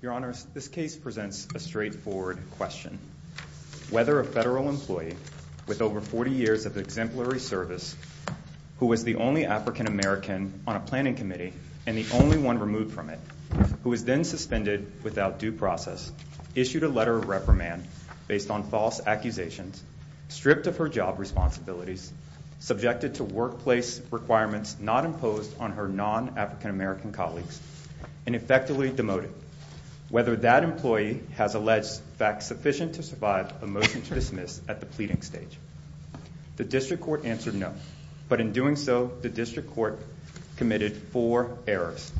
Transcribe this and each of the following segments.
Your Honor, this case presents a straightforward question. Whether a federal employee with over 40 years of exemplary service who was the only African American on a planning committee and the only one removed from it who was then suspended without due process, issued a letter of reprimand based on false accusations, stripped of her job responsibilities, subjected to workplace requirements not imposed on her non-African American colleagues, and effectively demoted. Whether that employee has alleged facts sufficient to survive a motion to dismiss at the pleading stage. The district court answered no. But in doing so, the district court committed four errors.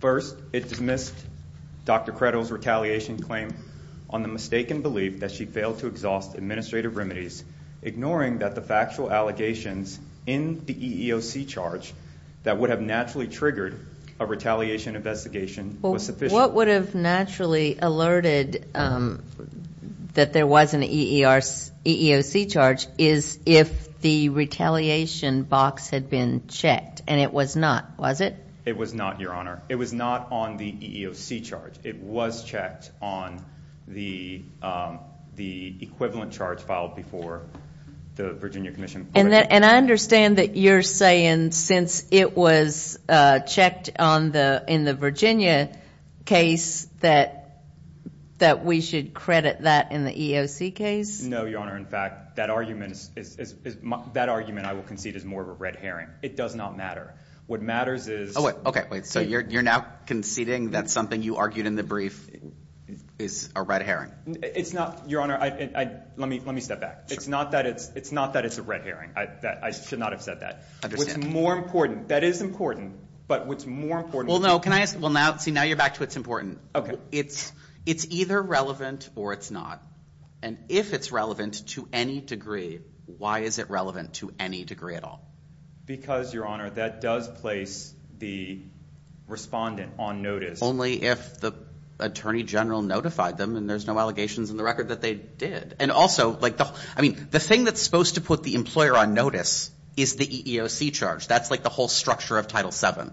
First, it dismissed Dr. Credle's retaliation claim on the mistaken belief that she failed to exhaust administrative remedies, ignoring that the factual allegations in the EEOC charge that would have naturally triggered a retaliation investigation was sufficient. What would have naturally alerted that there was an EEOC charge is if the retaliation box had been checked, and it was not, was it? It was not, Your Honor. It was not on the EEOC charge. It was checked on the equivalent charge filed before the Virginia Commission. And I understand that you're saying since it was checked in the Virginia case that we should credit that in the EEOC case? No, Your Honor. In fact, that argument I will concede is more of a red herring. It does not matter. What matters is ‑‑ So you're now conceding that something you argued in the brief is a red herring? It's not, Your Honor. Let me step back. It's not that it's a red herring. I should not have said that. I understand. What's more important, that is important, but what's more important ‑‑ Well, no. See, now you're back to what's important. Okay. It's either relevant or it's not. And if it's relevant to any degree, why is it relevant to any degree at all? Because, Your Honor, that does place the respondent on notice. Only if the Attorney General notified them and there's no allegations in the record that they did. And also, I mean, the thing that's supposed to put the employer on notice is the EEOC charge. That's like the whole structure of Title VII.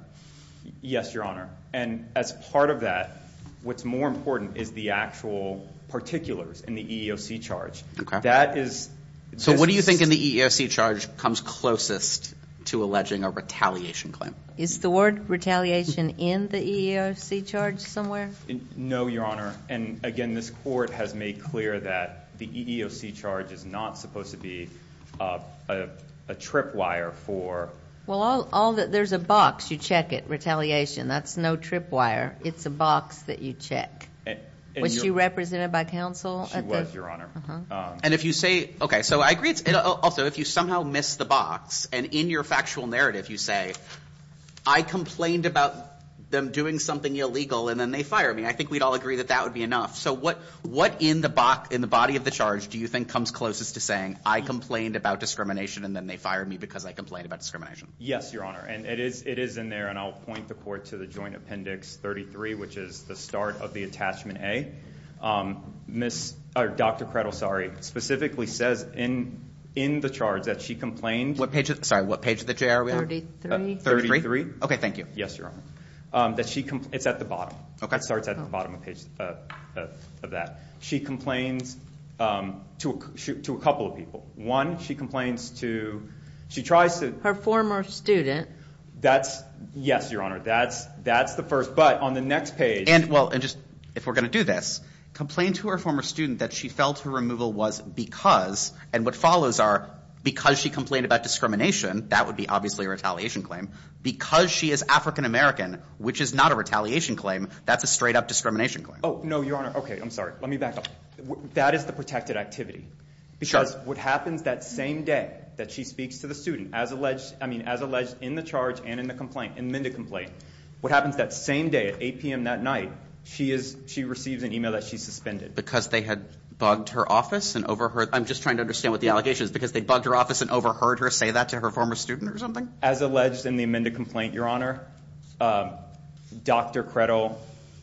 Yes, Your Honor. And as part of that, what's more important is the actual particulars in the EEOC charge. Okay. That is ‑‑ So what do you think in the EEOC charge comes closest to alleging a retaliation claim? Is the word retaliation in the EEOC charge somewhere? No, Your Honor. And, again, this Court has made clear that the EEOC charge is not supposed to be a trip wire for ‑‑ Well, there's a box. You check it. Retaliation. That's no trip wire. It's a box that you check. Was she represented by counsel? She was, Your Honor. And if you say ‑‑ Okay, so I agree it's ‑‑ Also, if you somehow miss the box and in your factual narrative you say, I complained about them doing something illegal and then they fired me, I think we'd all agree that that would be enough. So what in the body of the charge do you think comes closest to saying, I complained about discrimination and then they fired me because I complained about discrimination? Yes, Your Honor. And it is in there, and I'll point the Court to the Joint Appendix 33, which is the start of the Attachment A. Dr. Kretl specifically says in the charge that she complained ‑‑ Sorry, what page of the JR are we on? 33. 33? Okay, thank you. Yes, Your Honor. It's at the bottom. Okay. It starts at the bottom of that. She complains to a couple of people. One, she complains to ‑‑ Her former student. Yes, Your Honor. That's the first. But on the next page ‑‑ And, well, if we're going to do this, complained to her former student that she felt her removal was because, and what follows are because she complained about discrimination, that would be obviously a retaliation claim. Because she is African American, which is not a retaliation claim, that's a straight up discrimination claim. Oh, no, Your Honor. Okay, I'm sorry. Let me back up. That is the protected activity. Because what happens that same day that she speaks to the student, as alleged in the charge and in the complaint, in the Minda complaint, what happens that same day at 8 p.m. that night, she receives an email that she's suspended. Because they had bugged her office and overheard ‑‑ I'm just trying to understand what the allegation is. Because they bugged her office and overheard her say that to her former student or something? As alleged in the Minda complaint, Your Honor, Dr. Credle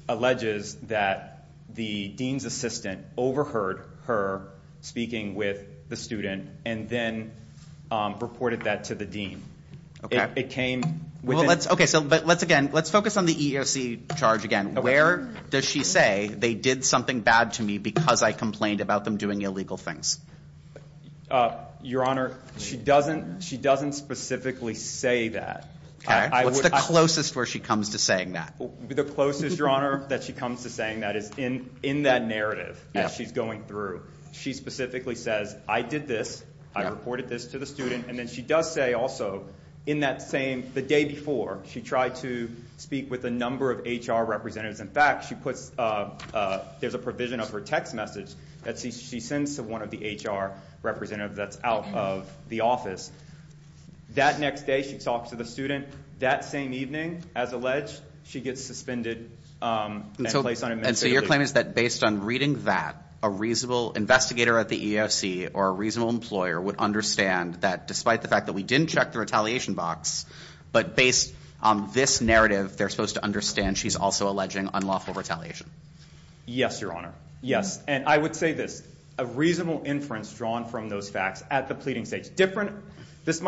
alleges that the dean's assistant overheard her speaking with the student and then reported that to the dean. Okay. It came within ‑‑ Okay. But let's, again, let's focus on the EEOC charge again. Where does she say they did something bad to me because I complained about them doing illegal things? Your Honor, she doesn't specifically say that. Okay. What's the closest where she comes to saying that? The closest, Your Honor, that she comes to saying that is in that narrative as she's going through. She specifically says, I did this. I reported this to the student. And then she does say also in that same, the day before, she tried to speak with a number of HR representatives. In fact, she puts ‑‑ there's a provision of her text message that she sends to one of the HR representatives that's out of the office. That next day she talks to the student. That same evening, as alleged, she gets suspended and placed on administrative leave. And so your claim is that based on reading that, a reasonable investigator at the EEOC or a reasonable employer would understand that despite the fact that we didn't check the retaliation box, but based on this narrative, they're supposed to understand she's also alleging unlawful retaliation. Yes, Your Honor. Yes. And I would say this. A reasonable inference drawn from those facts at the pleading stage. This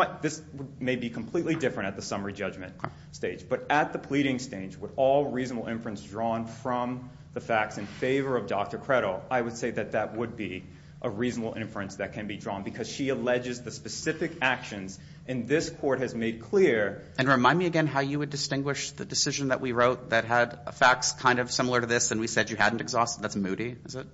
may be completely different at the summary judgment stage, but at the pleading stage, with all reasonable inference drawn from the facts in favor of Dr. Credo, I would say that that would be a reasonable inference that can be drawn because she alleges the specific actions in this court has made clear. And remind me again how you would distinguish the decision that we wrote that had facts kind of similar to this and we said you hadn't exhausted. That's Moody, is it?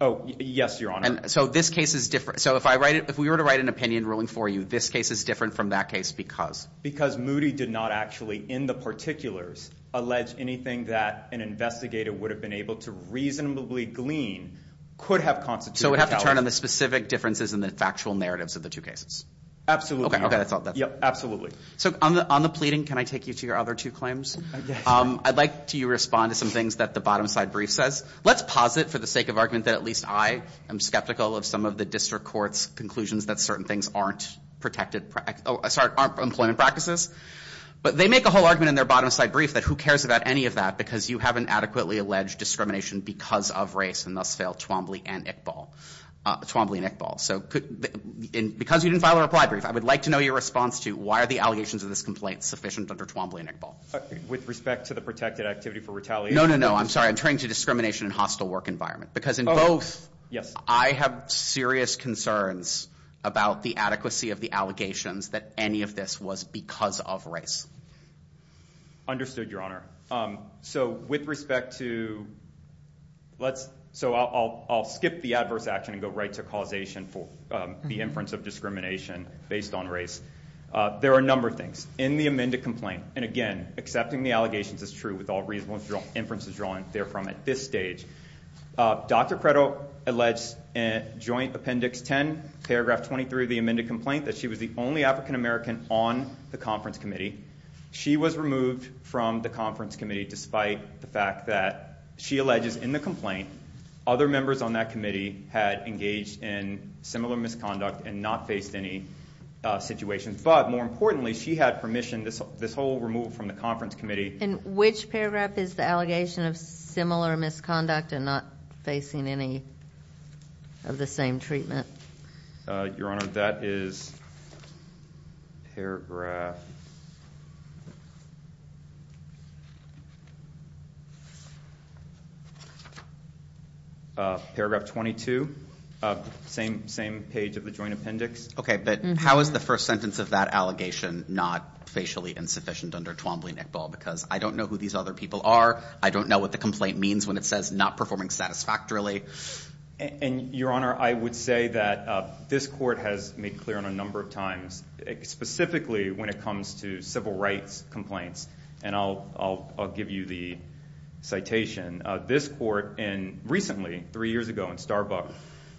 Oh, yes, Your Honor. So this case is different. So if we were to write an opinion ruling for you, this case is different from that case because? Because Moody did not actually, in the particulars, allege anything that an investigator would have been able to reasonably glean could have constituted retaliation. So we'd have to turn on the specific differences in the factual narratives of the two cases. Absolutely. Okay, that's all. Yep, absolutely. So on the pleading, can I take you to your other two claims? Yes. I'd like you to respond to some things that the bottom side brief says. Let's posit for the sake of argument that at least I am skeptical of some of the district court's conclusions that certain things aren't protected, sorry, aren't employment practices. But they make a whole argument in their bottom side brief that who cares about any of that because you haven't adequately alleged discrimination because of race and thus failed Twombly and Iqbal. So because you didn't file a reply brief, I would like to know your response to why are the allegations of this complaint sufficient under Twombly and Iqbal? With respect to the protected activity for retaliation? No, no, no. I'm sorry. I'm turning to discrimination in hostile work environment. Because in both, I have serious concerns about the adequacy of the allegations that any of this was because of race. Understood, Your Honor. So with respect to, let's, so I'll skip the adverse action and go right to causation for the inference of discrimination based on race. There are a number of things. In the amended complaint, and again, accepting the allegations is true with all reasonable inferences drawn therefrom at this stage. Dr. Credo alleged in Joint Appendix 10, Paragraph 23 of the amended complaint that she was the only African-American on the conference committee. She was removed from the conference committee despite the fact that she alleges in the complaint other members on that committee had engaged in similar misconduct and not faced any situations. But more importantly, she had permission, this whole removal from the conference committee. And which paragraph is the allegation of similar misconduct and not facing any of the same treatment? Your Honor, that is Paragraph 22, same page of the Joint Appendix. Okay, but how is the first sentence of that allegation not facially insufficient under Twombly-Nickball? Because I don't know who these other people are. I don't know what the complaint means when it says not performing satisfactorily. And, Your Honor, I would say that this court has made clear on a number of times, specifically when it comes to civil rights complaints. And I'll give you the citation. This court recently, three years ago in Starbuck,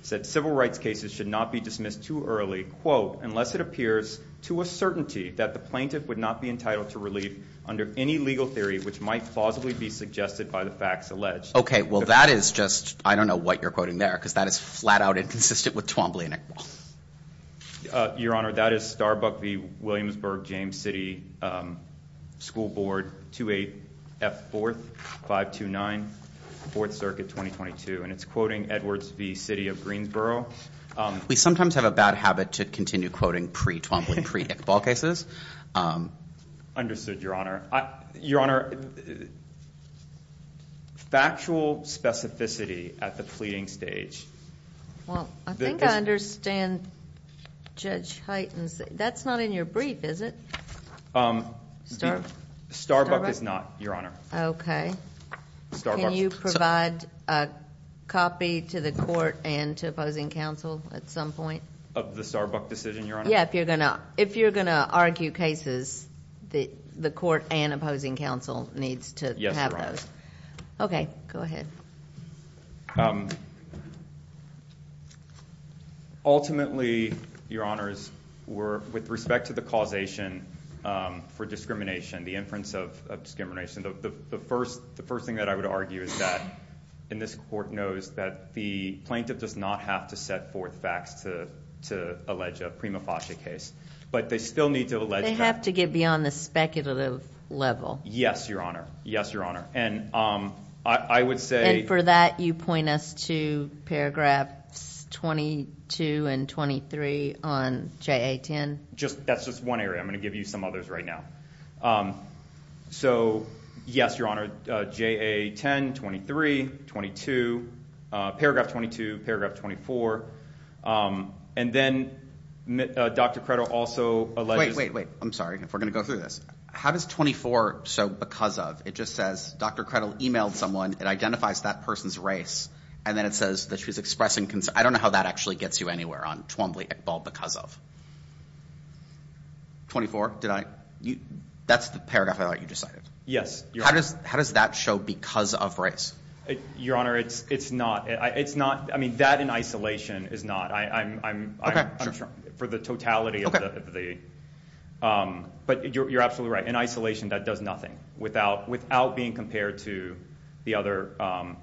said civil rights cases should not be dismissed too early, quote, unless it appears to a certainty that the plaintiff would not be entitled to relief under any legal theory which might plausibly be suggested by the facts alleged. Okay, well, that is just, I don't know what you're quoting there, because that is flat out inconsistent with Twombly-Nickball. Your Honor, that is Starbuck v. Williamsburg James City School Board, 28F4-529, Fourth Circuit, 2022. And it's quoting Edwards v. City of Greensboro. We sometimes have a bad habit to continue quoting pre-Twombly, pre-Nickball cases. Understood, Your Honor. Your Honor, factual specificity at the pleading stage. Well, I think I understand Judge Hyten's. That's not in your brief, is it? Starbuck is not, Your Honor. Okay. Can you provide a copy to the court and to opposing counsel at some point? Of the Starbuck decision, Your Honor? Yeah, if you're going to argue cases, the court and opposing counsel needs to have those. Okay, go ahead. Ultimately, Your Honors, with respect to the causation for discrimination, the inference of discrimination, the first thing that I would argue is that, and this court knows that the plaintiff does not have to set forth facts to allege a prima facie case. But they still need to allege- They have to get beyond the speculative level. Yes, Your Honor. Yes, Your Honor. And I would say- And for that, you point us to paragraphs 22 and 23 on JA-10? That's just one area. I'm going to give you some others right now. So, yes, Your Honor, JA-10, 23, 22. Paragraph 22, paragraph 24. And then Dr. Credill also alleges- Wait, wait, wait. I'm sorry. If we're going to go through this. How does 24 show because of? It just says Dr. Credill emailed someone. It identifies that person's race. And then it says that she was expressing concern. I don't know how that actually gets you anywhere on Twombly, Iqbal, because of. 24, did I- That's the paragraph I thought you just cited. Yes, Your Honor. How does that show because of race? Your Honor, it's not. It's not. I mean, that in isolation is not. I'm- Okay, sure. For the totality of the- But you're absolutely right. In isolation, that does nothing without being compared to the other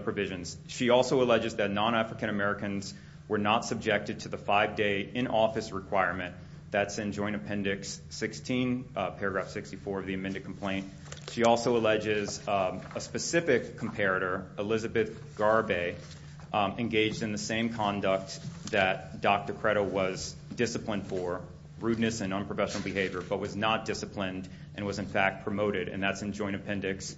provisions. She also alleges that non-African Americans were not subjected to the five-day in-office requirement. That's in Joint Appendix 16, paragraph 64 of the amended complaint. She also alleges a specific comparator, Elizabeth Garvey, engaged in the same conduct that Dr. Credill was disciplined for, rudeness and unprofessional behavior, but was not disciplined and was, in fact, promoted. And that's in Joint Appendix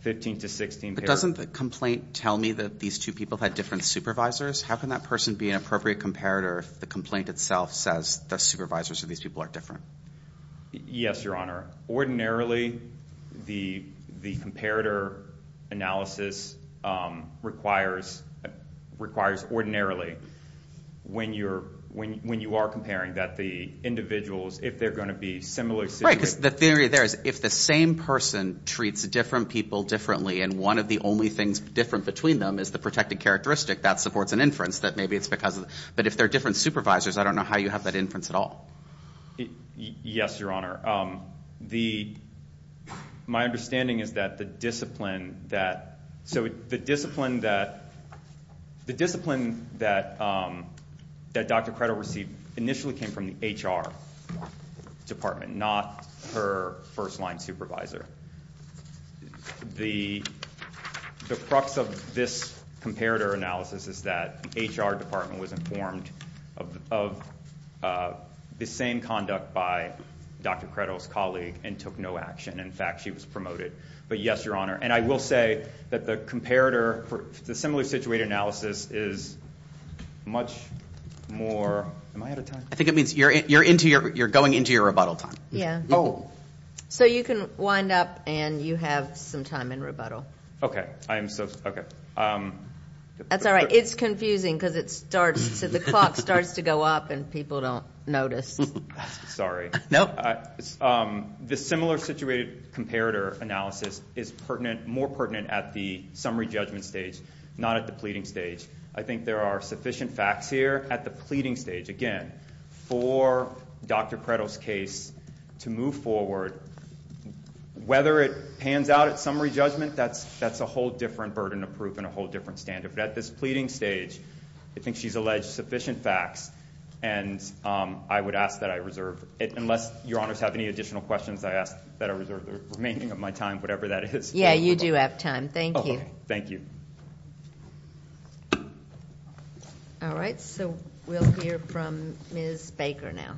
15 to 16. But doesn't the complaint tell me that these two people had different supervisors? How can that person be an appropriate comparator if the complaint itself says the supervisors of these people are different? Yes, Your Honor. Ordinarily, the comparator analysis requires ordinarily when you are comparing that the individuals, if they're going to be similar- Right, because the theory there is if the same person treats different people differently and one of the only things different between them is the protected characteristic, that supports an inference that maybe it's because- But if they're different supervisors, I don't know how you have that inference at all. Yes, Your Honor. My understanding is that the discipline that- department, not her first-line supervisor. The crux of this comparator analysis is that HR department was informed of the same conduct by Dr. Credill's colleague and took no action. In fact, she was promoted. But yes, Your Honor. And I will say that the comparator for the similar-situated analysis is much more- Am I out of time? I think it means you're going into your rebuttal time. Yes. Oh. So you can wind up and you have some time in rebuttal. Okay. That's all right. It's confusing because the clock starts to go up and people don't notice. Sorry. No. The similar-situated comparator analysis is more pertinent at the summary judgment stage, not at the pleading stage. I think there are sufficient facts here at the pleading stage. Again, for Dr. Credill's case to move forward, whether it pans out at summary judgment, that's a whole different burden of proof and a whole different standard. But at this pleading stage, I think she's alleged sufficient facts. And I would ask that I reserve, unless Your Honors have any additional questions, I ask that I reserve the remaining of my time, whatever that is. Yeah, you do have time. Thank you. Thank you. All right. So we'll hear from Ms. Baker now.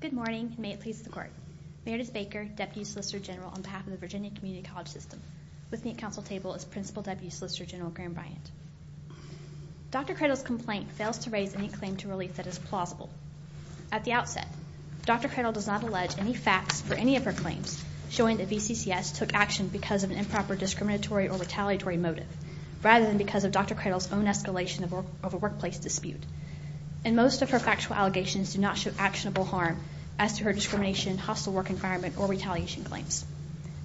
Good morning, and may it please the Court. Meredith Baker, Deputy Solicitor General on behalf of the Virginia Community College System. With me at counsel table is Principal Deputy Solicitor General Graham Bryant. Dr. Credill's complaint fails to raise any claim to relief that is plausible. At the outset, Dr. Credill does not allege any facts for any of her claims showing that VCCS took action because of an improper discriminatory or retaliatory motive, rather than because of Dr. Credill's own escalation of a workplace dispute. And most of her factual allegations do not show actionable harm as to her discrimination, hostile work environment, or retaliation claims.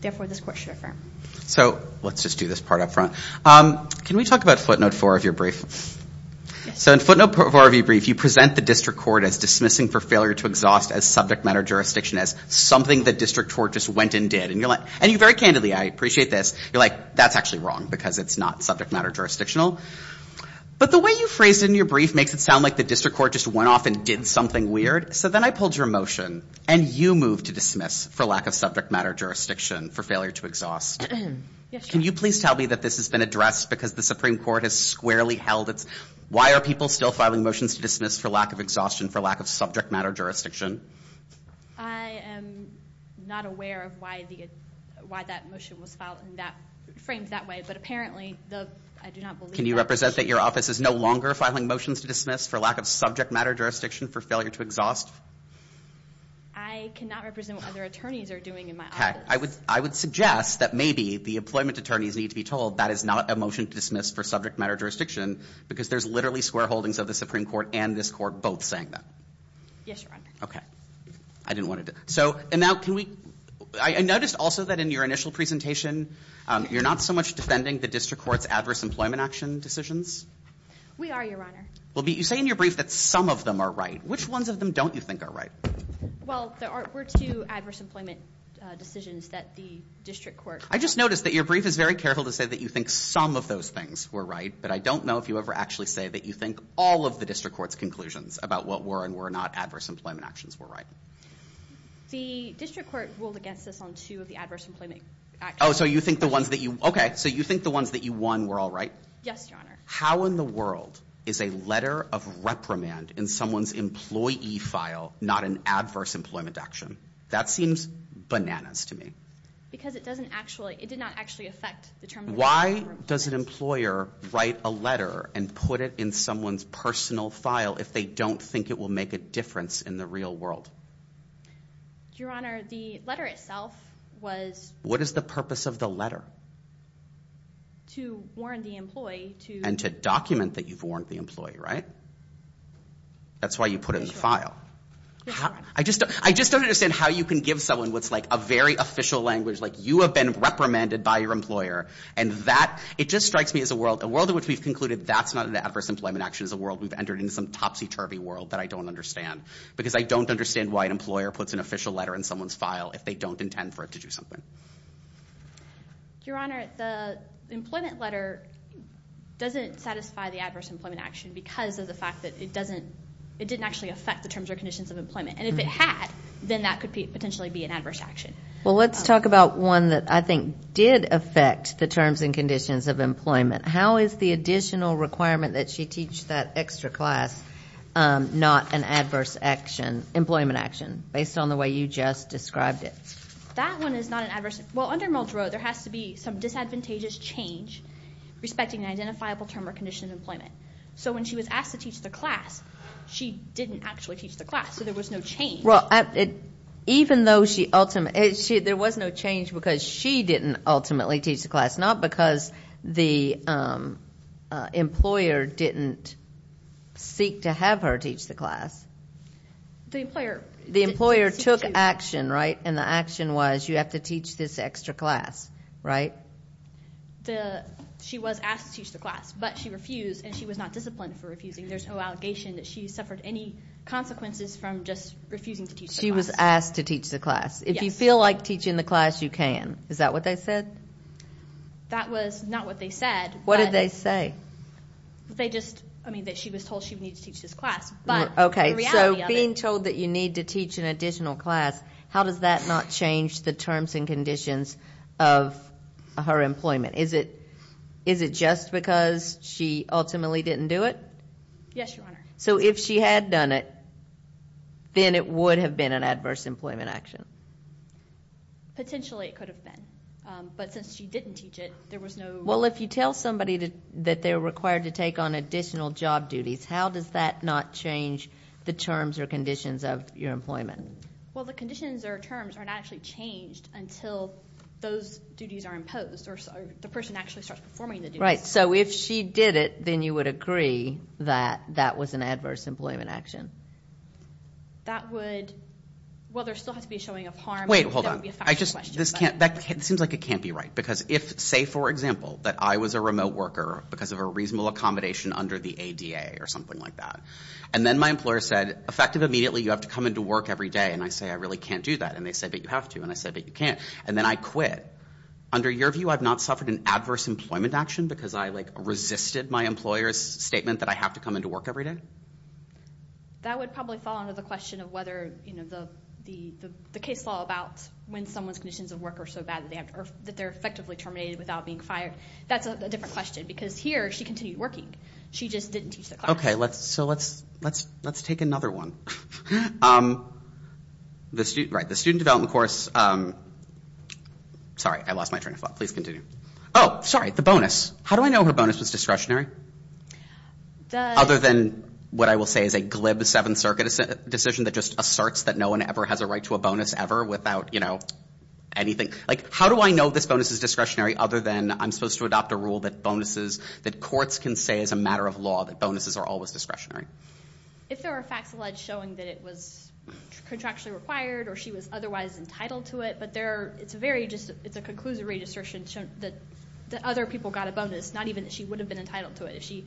Therefore, this Court should affirm. So let's just do this part up front. Can we talk about footnote four of your brief? So in footnote four of your brief, you present the district court as dismissing for failure to exhaust as subject matter jurisdiction, as something the district court just went and did. And you very candidly, I appreciate this, you're like, that's actually wrong because it's not subject matter jurisdictional. But the way you phrased it in your brief makes it sound like the district court just went off and did something weird. So then I pulled your motion, and you moved to dismiss for lack of subject matter jurisdiction for failure to exhaust. Can you please tell me that this has been addressed because the Supreme Court has squarely held its, why are people still filing motions to dismiss for lack of exhaustion for lack of subject matter jurisdiction? I am not aware of why that motion was filed in that, framed that way. But apparently, I do not believe that. Can you represent that your office is no longer filing motions to dismiss for lack of subject matter jurisdiction for failure to exhaust? I cannot represent what other attorneys are doing in my office. I would suggest that maybe the employment attorneys need to be told that is not a motion to dismiss for subject matter jurisdiction because there's literally square holdings of the Supreme Court and this Court both saying that. Yes, Your Honor. Okay. I didn't want to. So, and now can we, I noticed also that in your initial presentation, you're not so much defending the district court's adverse employment action decisions. We are, Your Honor. Well, you say in your brief that some of them are right. Which ones of them don't you think are right? Well, there were two adverse employment decisions that the district court. I just noticed that your brief is very careful to say that you think some of those things were right, but I don't know if you ever actually say that you think all of the district court's conclusions about what were and were not adverse employment actions were right. The district court ruled against us on two of the adverse employment actions. Oh, so you think the ones that you, okay. So you think the ones that you won were all right? Yes, Your Honor. How in the world is a letter of reprimand in someone's employee file not an adverse employment action? That seems bananas to me. Because it doesn't actually, it did not actually affect the term. Why does an employer write a letter and put it in someone's personal file if they don't think it will make a difference in the real world? Your Honor, the letter itself was... What is the purpose of the letter? To warn the employee to... And to document that you've warned the employee, right? That's why you put it in the file. I just don't understand how you can give someone what's like a very official language, like you have been reprimanded by your employer and that... It just strikes me as a world in which we've concluded that's not an adverse employment action. It's a world we've entered into some topsy-turvy world that I don't understand. Because I don't understand why an employer puts an official letter in someone's file if they don't intend for it to do something. Your Honor, the employment letter doesn't satisfy the adverse employment action because of the fact that it doesn't... It didn't actually affect the terms or conditions of employment. And if it had, then that could potentially be an adverse action. Well, let's talk about one that I think did affect the terms and conditions of employment. How is the additional requirement that she teach that extra class not an adverse action, employment action, based on the way you just described it? That one is not an adverse... Well, under Muldrow, there has to be some disadvantageous change respecting an identifiable term or condition of employment. So when she was asked to teach the class, she didn't actually teach the class. So there was no change. Well, even though she ultimately... There was no change because she didn't ultimately teach the class, not because the employer didn't seek to have her teach the class. The employer... The employer took action, right? And the action was you have to teach this extra class, right? She was asked to teach the class, but she refused, and she was not disciplined for refusing. There's no allegation that she suffered any consequences from just refusing to teach the class. She was asked to teach the class. Yes. If you feel like teaching the class, you can. Is that what they said? That was not what they said, but... What did they say? They just... I mean, that she was told she needed to teach this class. But the reality of it. Okay, so being told that you need to teach an additional class, how does that not change the terms and conditions of her employment? Is it just because she ultimately didn't do it? Yes, Your Honor. So if she had done it, then it would have been an adverse employment action? Potentially it could have been. But since she didn't teach it, there was no... Well, if you tell somebody that they're required to take on additional job duties, how does that not change the terms or conditions of your employment? Well, the conditions or terms are not actually changed until those duties are imposed or the person actually starts performing the duties. Right. So if she did it, then you would agree that that was an adverse employment action? That would... Well, there still has to be a showing of harm. Wait, hold on. That would be a factual question. It seems like it can't be right because if, say, for example, that I was a remote worker because of a reasonable accommodation under the ADA or something like that, and then my employer said, effective immediately, you have to come into work every day. And I say, I really can't do that. And they say, but you have to. And I say, but you can't. And then I quit. Under your view, I've not suffered an adverse employment action because I resisted my employer's statement that I have to come into work every day? That would probably fall under the question of whether the case law about when someone's conditions of work are so bad that they're effectively terminated without being fired. That's a different question because here she continued working. She just didn't teach the class. Okay, so let's take another one. Right, the student development course. Sorry, I lost my train of thought. Please continue. Oh, sorry, the bonus. How do I know her bonus was discretionary? Other than what I will say is a glib Seventh Circuit decision that just asserts that no one ever has a right to a bonus ever without anything. How do I know this bonus is discretionary other than I'm supposed to adopt a rule that bonuses, that courts can say as a matter of law that bonuses are always discretionary? If there are facts alleged showing that it was contractually required or she was otherwise entitled to it, but there are, it's a very, it's a conclusive redistriction that other people got a bonus, not even that she would have been entitled to it if she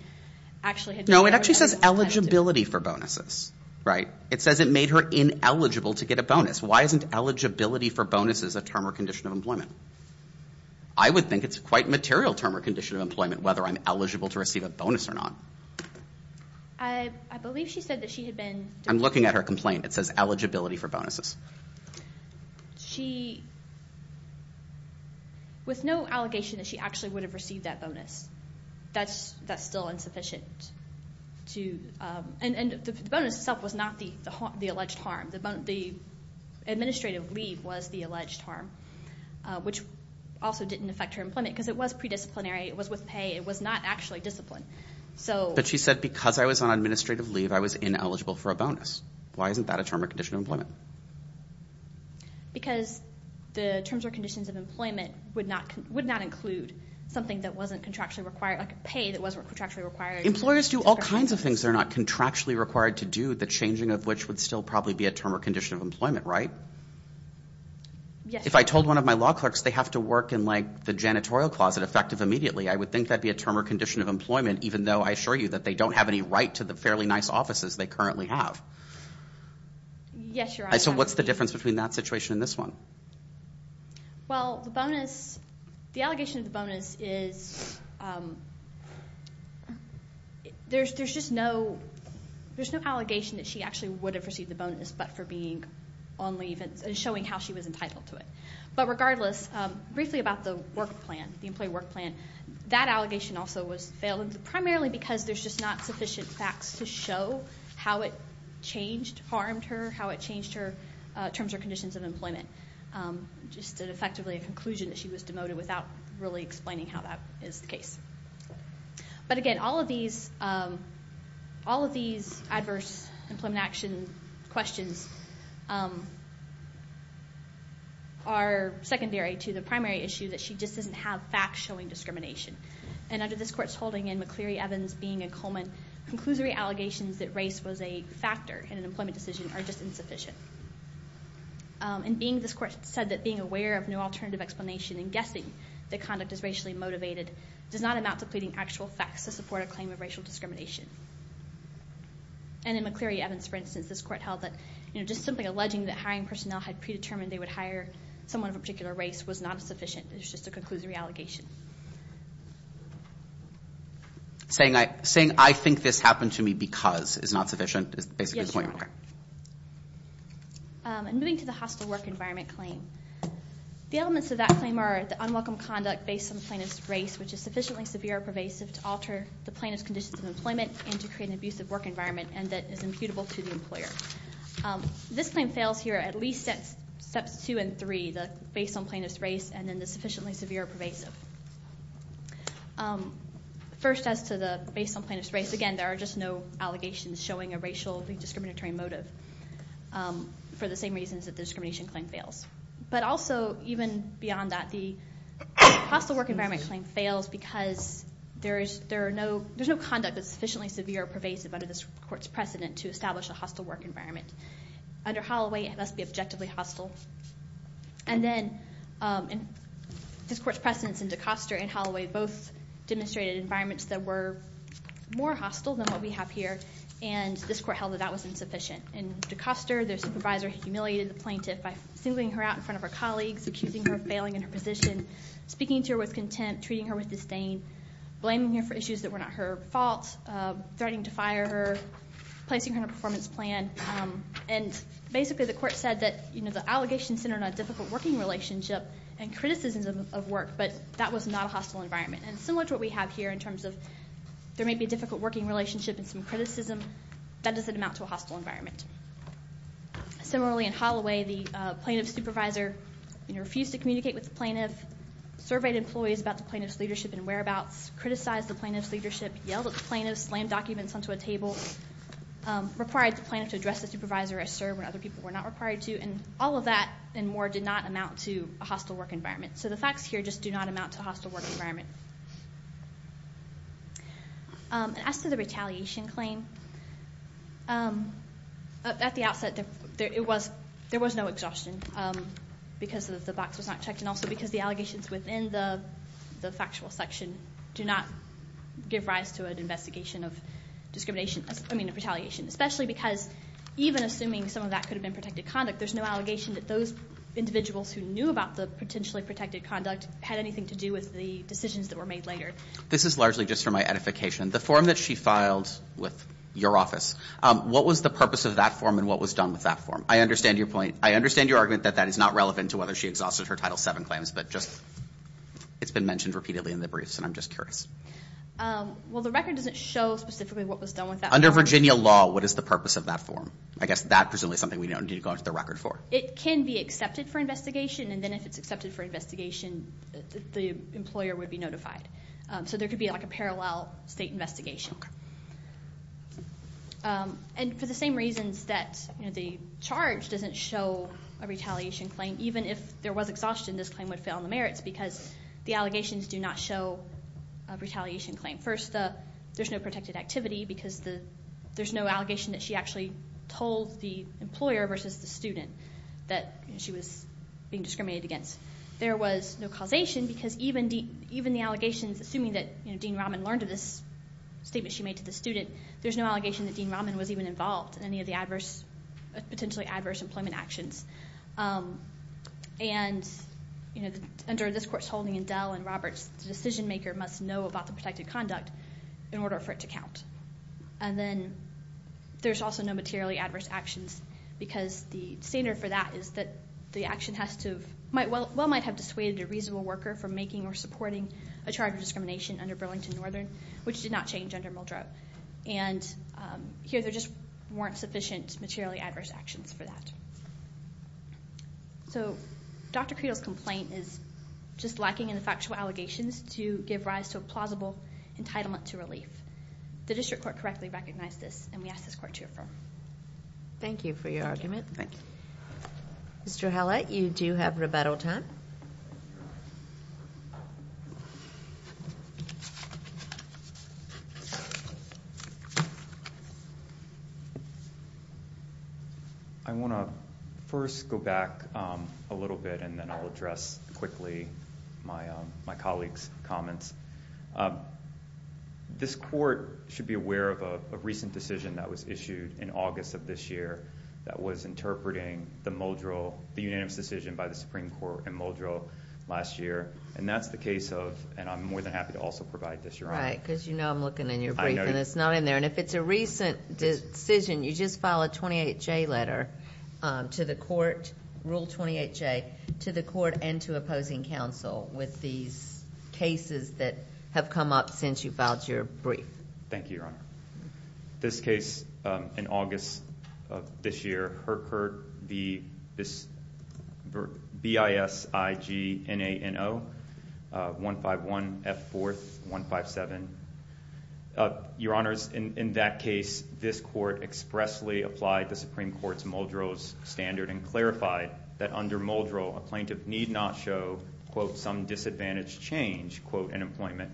actually had been. No, it actually says eligibility for bonuses, right? It says it made her ineligible to get a bonus. Why isn't eligibility for bonuses a term or condition of employment? I would think it's quite a material term or condition of employment whether I'm eligible to receive a bonus or not. I believe she said that she had been. I'm looking at her complaint. It says eligibility for bonuses. She, with no allegation that she actually would have received that bonus, that's still insufficient to, and the bonus itself was not the alleged harm. The administrative leave was the alleged harm, which also didn't affect her employment because it was predisciplinary. It was with pay. It was not actually discipline. But she said because I was on administrative leave, I was ineligible for a bonus. Why isn't that a term or condition of employment? Because the terms or conditions of employment would not include something that wasn't contractually required, like pay that wasn't contractually required. Employers do all kinds of things that are not contractually required to do, the changing of which would still probably be a term or condition of employment, right? Yes. If I told one of my law clerks they have to work in, like, the janitorial closet effective immediately, I would think that would be a term or condition of employment even though I assure you that they don't have any right to the fairly nice offices they currently have. Yes, Your Honor. So what's the difference between that situation and this one? Well, the bonus, the allegation of the bonus is there's just no, there's no allegation that she actually would have received the bonus but for being on leave and showing how she was entitled to it. But regardless, briefly about the work plan, the employee work plan, that allegation also was failed, primarily because there's just not sufficient facts to show how it changed, harmed her, how it changed her terms or conditions of employment. Just effectively a conclusion that she was demoted without really explaining how that is the case. But again, all of these adverse employment action questions are secondary to the primary issue that she just doesn't have facts showing discrimination. And under this Court's holding in McCleary-Evans being a Coleman, conclusory allegations that race was a factor in an employment decision are just insufficient. And being this Court said that being aware of no alternative explanation and guessing that conduct is racially motivated does not amount to pleading actual facts to support a claim of racial discrimination. And in McCleary-Evans, for instance, this Court held that, you know, just simply alleging that hiring personnel had predetermined they would hire someone of a particular race was not sufficient. It was just a conclusory allegation. Saying I think this happened to me because is not sufficient is basically the point. And moving to the hostile work environment claim, the elements of that claim are the unwelcome conduct based on plaintiff's race, which is sufficiently severe or pervasive to alter the plaintiff's conditions of employment and to create an abusive work environment and that is imputable to the employer. This claim fails here at least at steps two and three, the based on plaintiff's race and then the sufficiently severe or pervasive. First, as to the based on plaintiff's race, again, there are just no allegations showing a racially discriminatory motive for the same reasons that the discrimination claim fails. But also, even beyond that, the hostile work environment claim fails because there's no conduct that's sufficiently severe or pervasive under this Court's precedent to establish a hostile work environment. Under Holloway, it must be objectively hostile. And then this Court's precedents in DeCoster and Holloway both demonstrated environments that were more hostile than what we have here and this Court held that that was insufficient. In DeCoster, their supervisor humiliated the plaintiff by singling her out in front of her colleagues, accusing her of failing in her position, speaking to her with contempt, treating her with disdain, blaming her for issues that were not her fault, threatening to fire her, placing her in a performance plan. And basically, the Court said that, you know, the allegations centered on a difficult working relationship and criticisms of work, but that was not a hostile environment. And similar to what we have here in terms of there may be a difficult working relationship and some criticism, that doesn't amount to a hostile environment. Similarly, in Holloway, the plaintiff's supervisor refused to communicate with the plaintiff, surveyed employees about the plaintiff's leadership and whereabouts, criticized the plaintiff's leadership, yelled at the plaintiff, slammed documents onto a table, required the plaintiff to address the supervisor as served when other people were not required to, and all of that and more did not amount to a hostile work environment. So the facts here just do not amount to a hostile work environment. As to the retaliation claim, at the outset there was no exhaustion because the box was not checked and also because the allegations within the factual section do not give rise to an investigation of retaliation, especially because even assuming some of that could have been protected conduct, there's no allegation that those individuals who knew about the potentially protected conduct had anything to do with the decisions that were made later. This is largely just for my edification. The form that she filed with your office, what was the purpose of that form and what was done with that form? I understand your point. I understand your argument that that is not relevant to whether she exhausted her Title VII claims, but just it's been mentioned repeatedly in the briefs and I'm just curious. Well, the record doesn't show specifically what was done with that form. Under Virginia law, what is the purpose of that form? I guess that presumably is something we don't need to go into the record for. It can be accepted for investigation, and then if it's accepted for investigation, the employer would be notified. So there could be like a parallel state investigation. And for the same reasons that the charge doesn't show a retaliation claim, even if there was exhaustion, this claim would fail in the merits because the allegations do not show a retaliation claim. First, there's no protected activity because there's no allegation that she actually told the employer versus the student. That she was being discriminated against. There was no causation because even the allegations, assuming that Dean Raman learned of this statement she made to the student, there's no allegation that Dean Raman was even involved in any of the adverse, potentially adverse employment actions. And under this Court's holding in Dell and Roberts, the decision maker must know about the protected conduct in order for it to count. And then there's also no materially adverse actions because the standard for that is that the action has to have, well might have dissuaded a reasonable worker from making or supporting a charge of discrimination under Burlington Northern, which did not change under Muldrow. And here there just weren't sufficient materially adverse actions for that. So Dr. Creedle's complaint is just lacking in the factual allegations to give rise to a plausible entitlement to relief. The District Court correctly recognized this and we ask this Court to affirm. Thank you for your argument. Thank you. Mr. Hallett, you do have rebuttal time. I want to first go back a little bit and then I'll address quickly my colleague's comments. This Court should be aware of a recent decision that was issued in August of this year that was interpreting the Muldrow, the unanimous decision by the Supreme Court in Muldrow last year. And that's the case of, and I'm more than happy to also provide this, Your Honor. Right, because you know I'm looking in your brief and it's not in there. And if it's a recent decision, you just file a 28-J letter to the court, Rule 28-J, to the court and to opposing counsel with these cases that have come up since you filed your brief. Thank you, Your Honor. This case in August of this year, Herkert BISIGNANO 151F4-157. Your Honors, in that case, this Court expressly applied the Supreme Court's Muldrow's standard and clarified that under Muldrow, a plaintiff need not show, quote, some disadvantaged change, quote, in employment.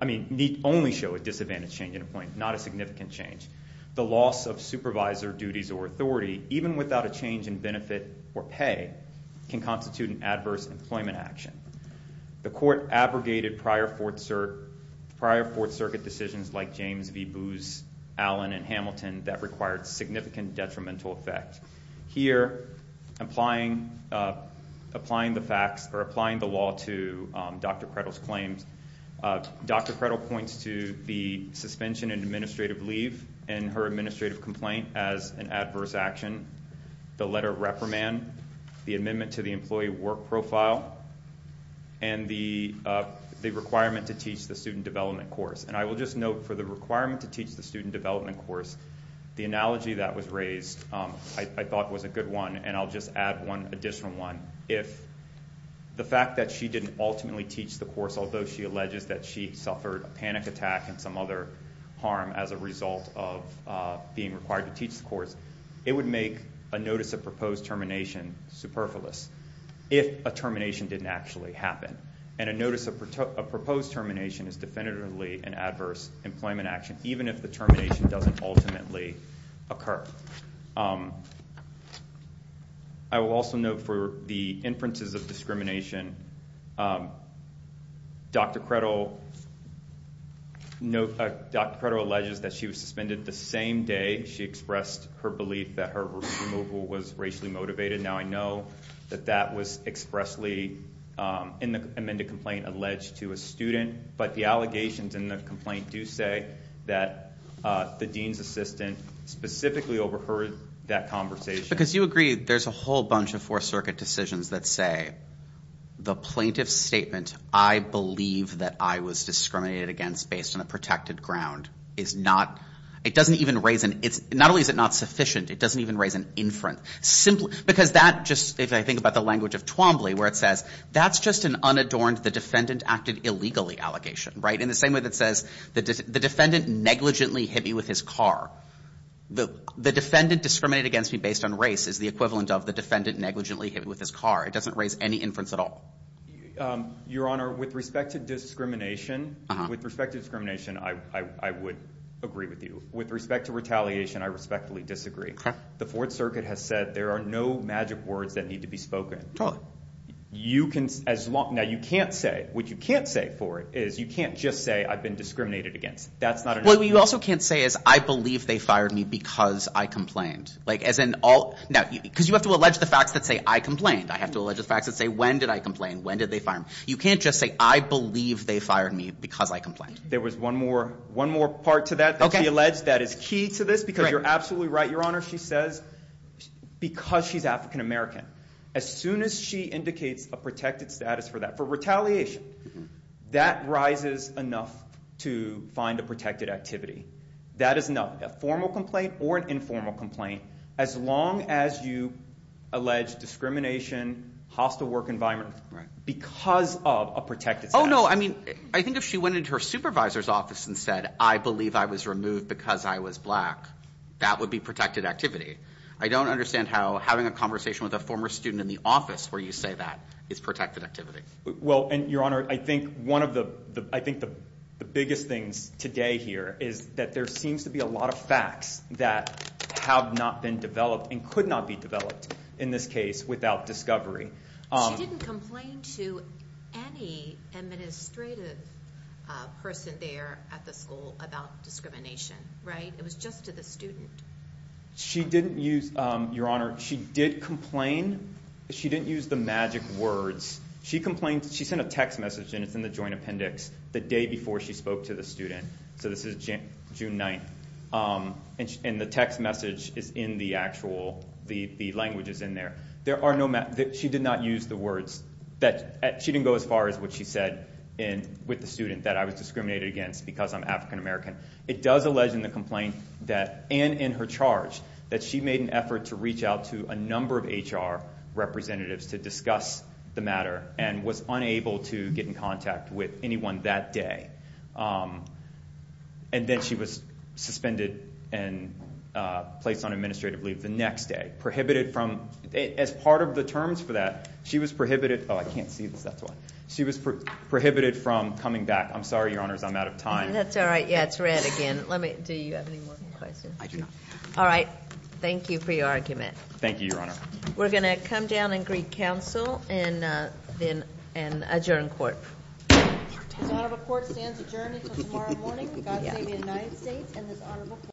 I mean, need only show a disadvantaged change in employment, not a significant change. The loss of supervisor duties or authority, even without a change in benefit or pay, can constitute an adverse employment action. The Court abrogated prior Fourth Circuit decisions like James v. Booz, Allen, and Hamilton that required significant detrimental effect. Here, applying the facts or applying the law to Dr. Prettel's claims, Dr. Prettel points to the suspension and administrative leave and her administrative complaint as an adverse action, the letter reprimand, the amendment to the employee work profile, and the requirement to teach the student development course. And I will just note for the requirement to teach the student development course, the analogy that was raised, I thought was a good one, and I'll just add one additional one. If the fact that she didn't ultimately teach the course, although she alleges that she suffered a panic attack and some other harm as a result of being required to teach the course, it would make a notice of proposed termination superfluous if a termination didn't actually happen. And a notice of proposed termination is definitively an adverse employment action, even if the termination doesn't ultimately occur. I will also note for the inferences of discrimination, Dr. Prettel alleges that she was suspended the same day she expressed her belief that her removal was racially motivated. Now, I know that that was expressly in the amended complaint alleged to a student, but the allegations in the complaint do say that the dean's assistant specifically overheard that conversation. Because you agree there's a whole bunch of Fourth Circuit decisions that say the plaintiff's statement, I believe that I was discriminated against based on a protected ground is not – it doesn't even raise an – if I think about the language of Twombly where it says that's just an unadorned, the defendant acted illegally allegation. In the same way that it says the defendant negligently hit me with his car. The defendant discriminated against me based on race is the equivalent of the defendant negligently hit me with his car. It doesn't raise any inference at all. Your Honor, with respect to discrimination, I would agree with you. With respect to retaliation, I respectfully disagree. The Fourth Circuit has said there are no magic words that need to be spoken. You can – now, you can't say – what you can't say for it is you can't just say I've been discriminated against. That's not a – What you also can't say is I believe they fired me because I complained. Like, as in all – now, because you have to allege the facts that say I complained. I have to allege the facts that say when did I complain, when did they fire me. You can't just say I believe they fired me because I complained. There was one more part to that that we allege that is key to this because you're absolutely right, Your Honor. She says because she's African-American. As soon as she indicates a protected status for that, for retaliation, that rises enough to find a protected activity. That is not a formal complaint or an informal complaint as long as you allege discrimination, hostile work environment because of a protected status. No, no. I mean I think if she went into her supervisor's office and said I believe I was removed because I was black, that would be protected activity. I don't understand how having a conversation with a former student in the office where you say that is protected activity. Well, and Your Honor, I think one of the – I think the biggest things today here is that there seems to be a lot of facts that have not been developed and could not be developed in this case without discovery. She didn't complain to any administrative person there at the school about discrimination, right? It was just to the student. She didn't use – Your Honor, she did complain. She didn't use the magic words. She complained – she sent a text message and it's in the joint appendix the day before she spoke to the student. So this is June 9th. And the text message is in the actual – the language is in there. There are no – she did not use the words that – she didn't go as far as what she said with the student that I was discriminated against because I'm African American. It does allege in the complaint that – and in her charge that she made an effort to reach out to a number of HR representatives to discuss the matter and was unable to get in contact with anyone that day. And then she was suspended and placed on administrative leave the next day. Prohibited from – as part of the terms for that, she was prohibited – oh, I can't see this. That's why. She was prohibited from coming back. I'm sorry, Your Honors. I'm out of time. That's all right. Yeah, it's red again. Let me – do you have any more questions? I do not. All right. Thank you for your argument. Thank you, Your Honor. We're going to come down and greet counsel and then adjourn court. The court stands adjourned until tomorrow morning. God save the United States and this honorable court.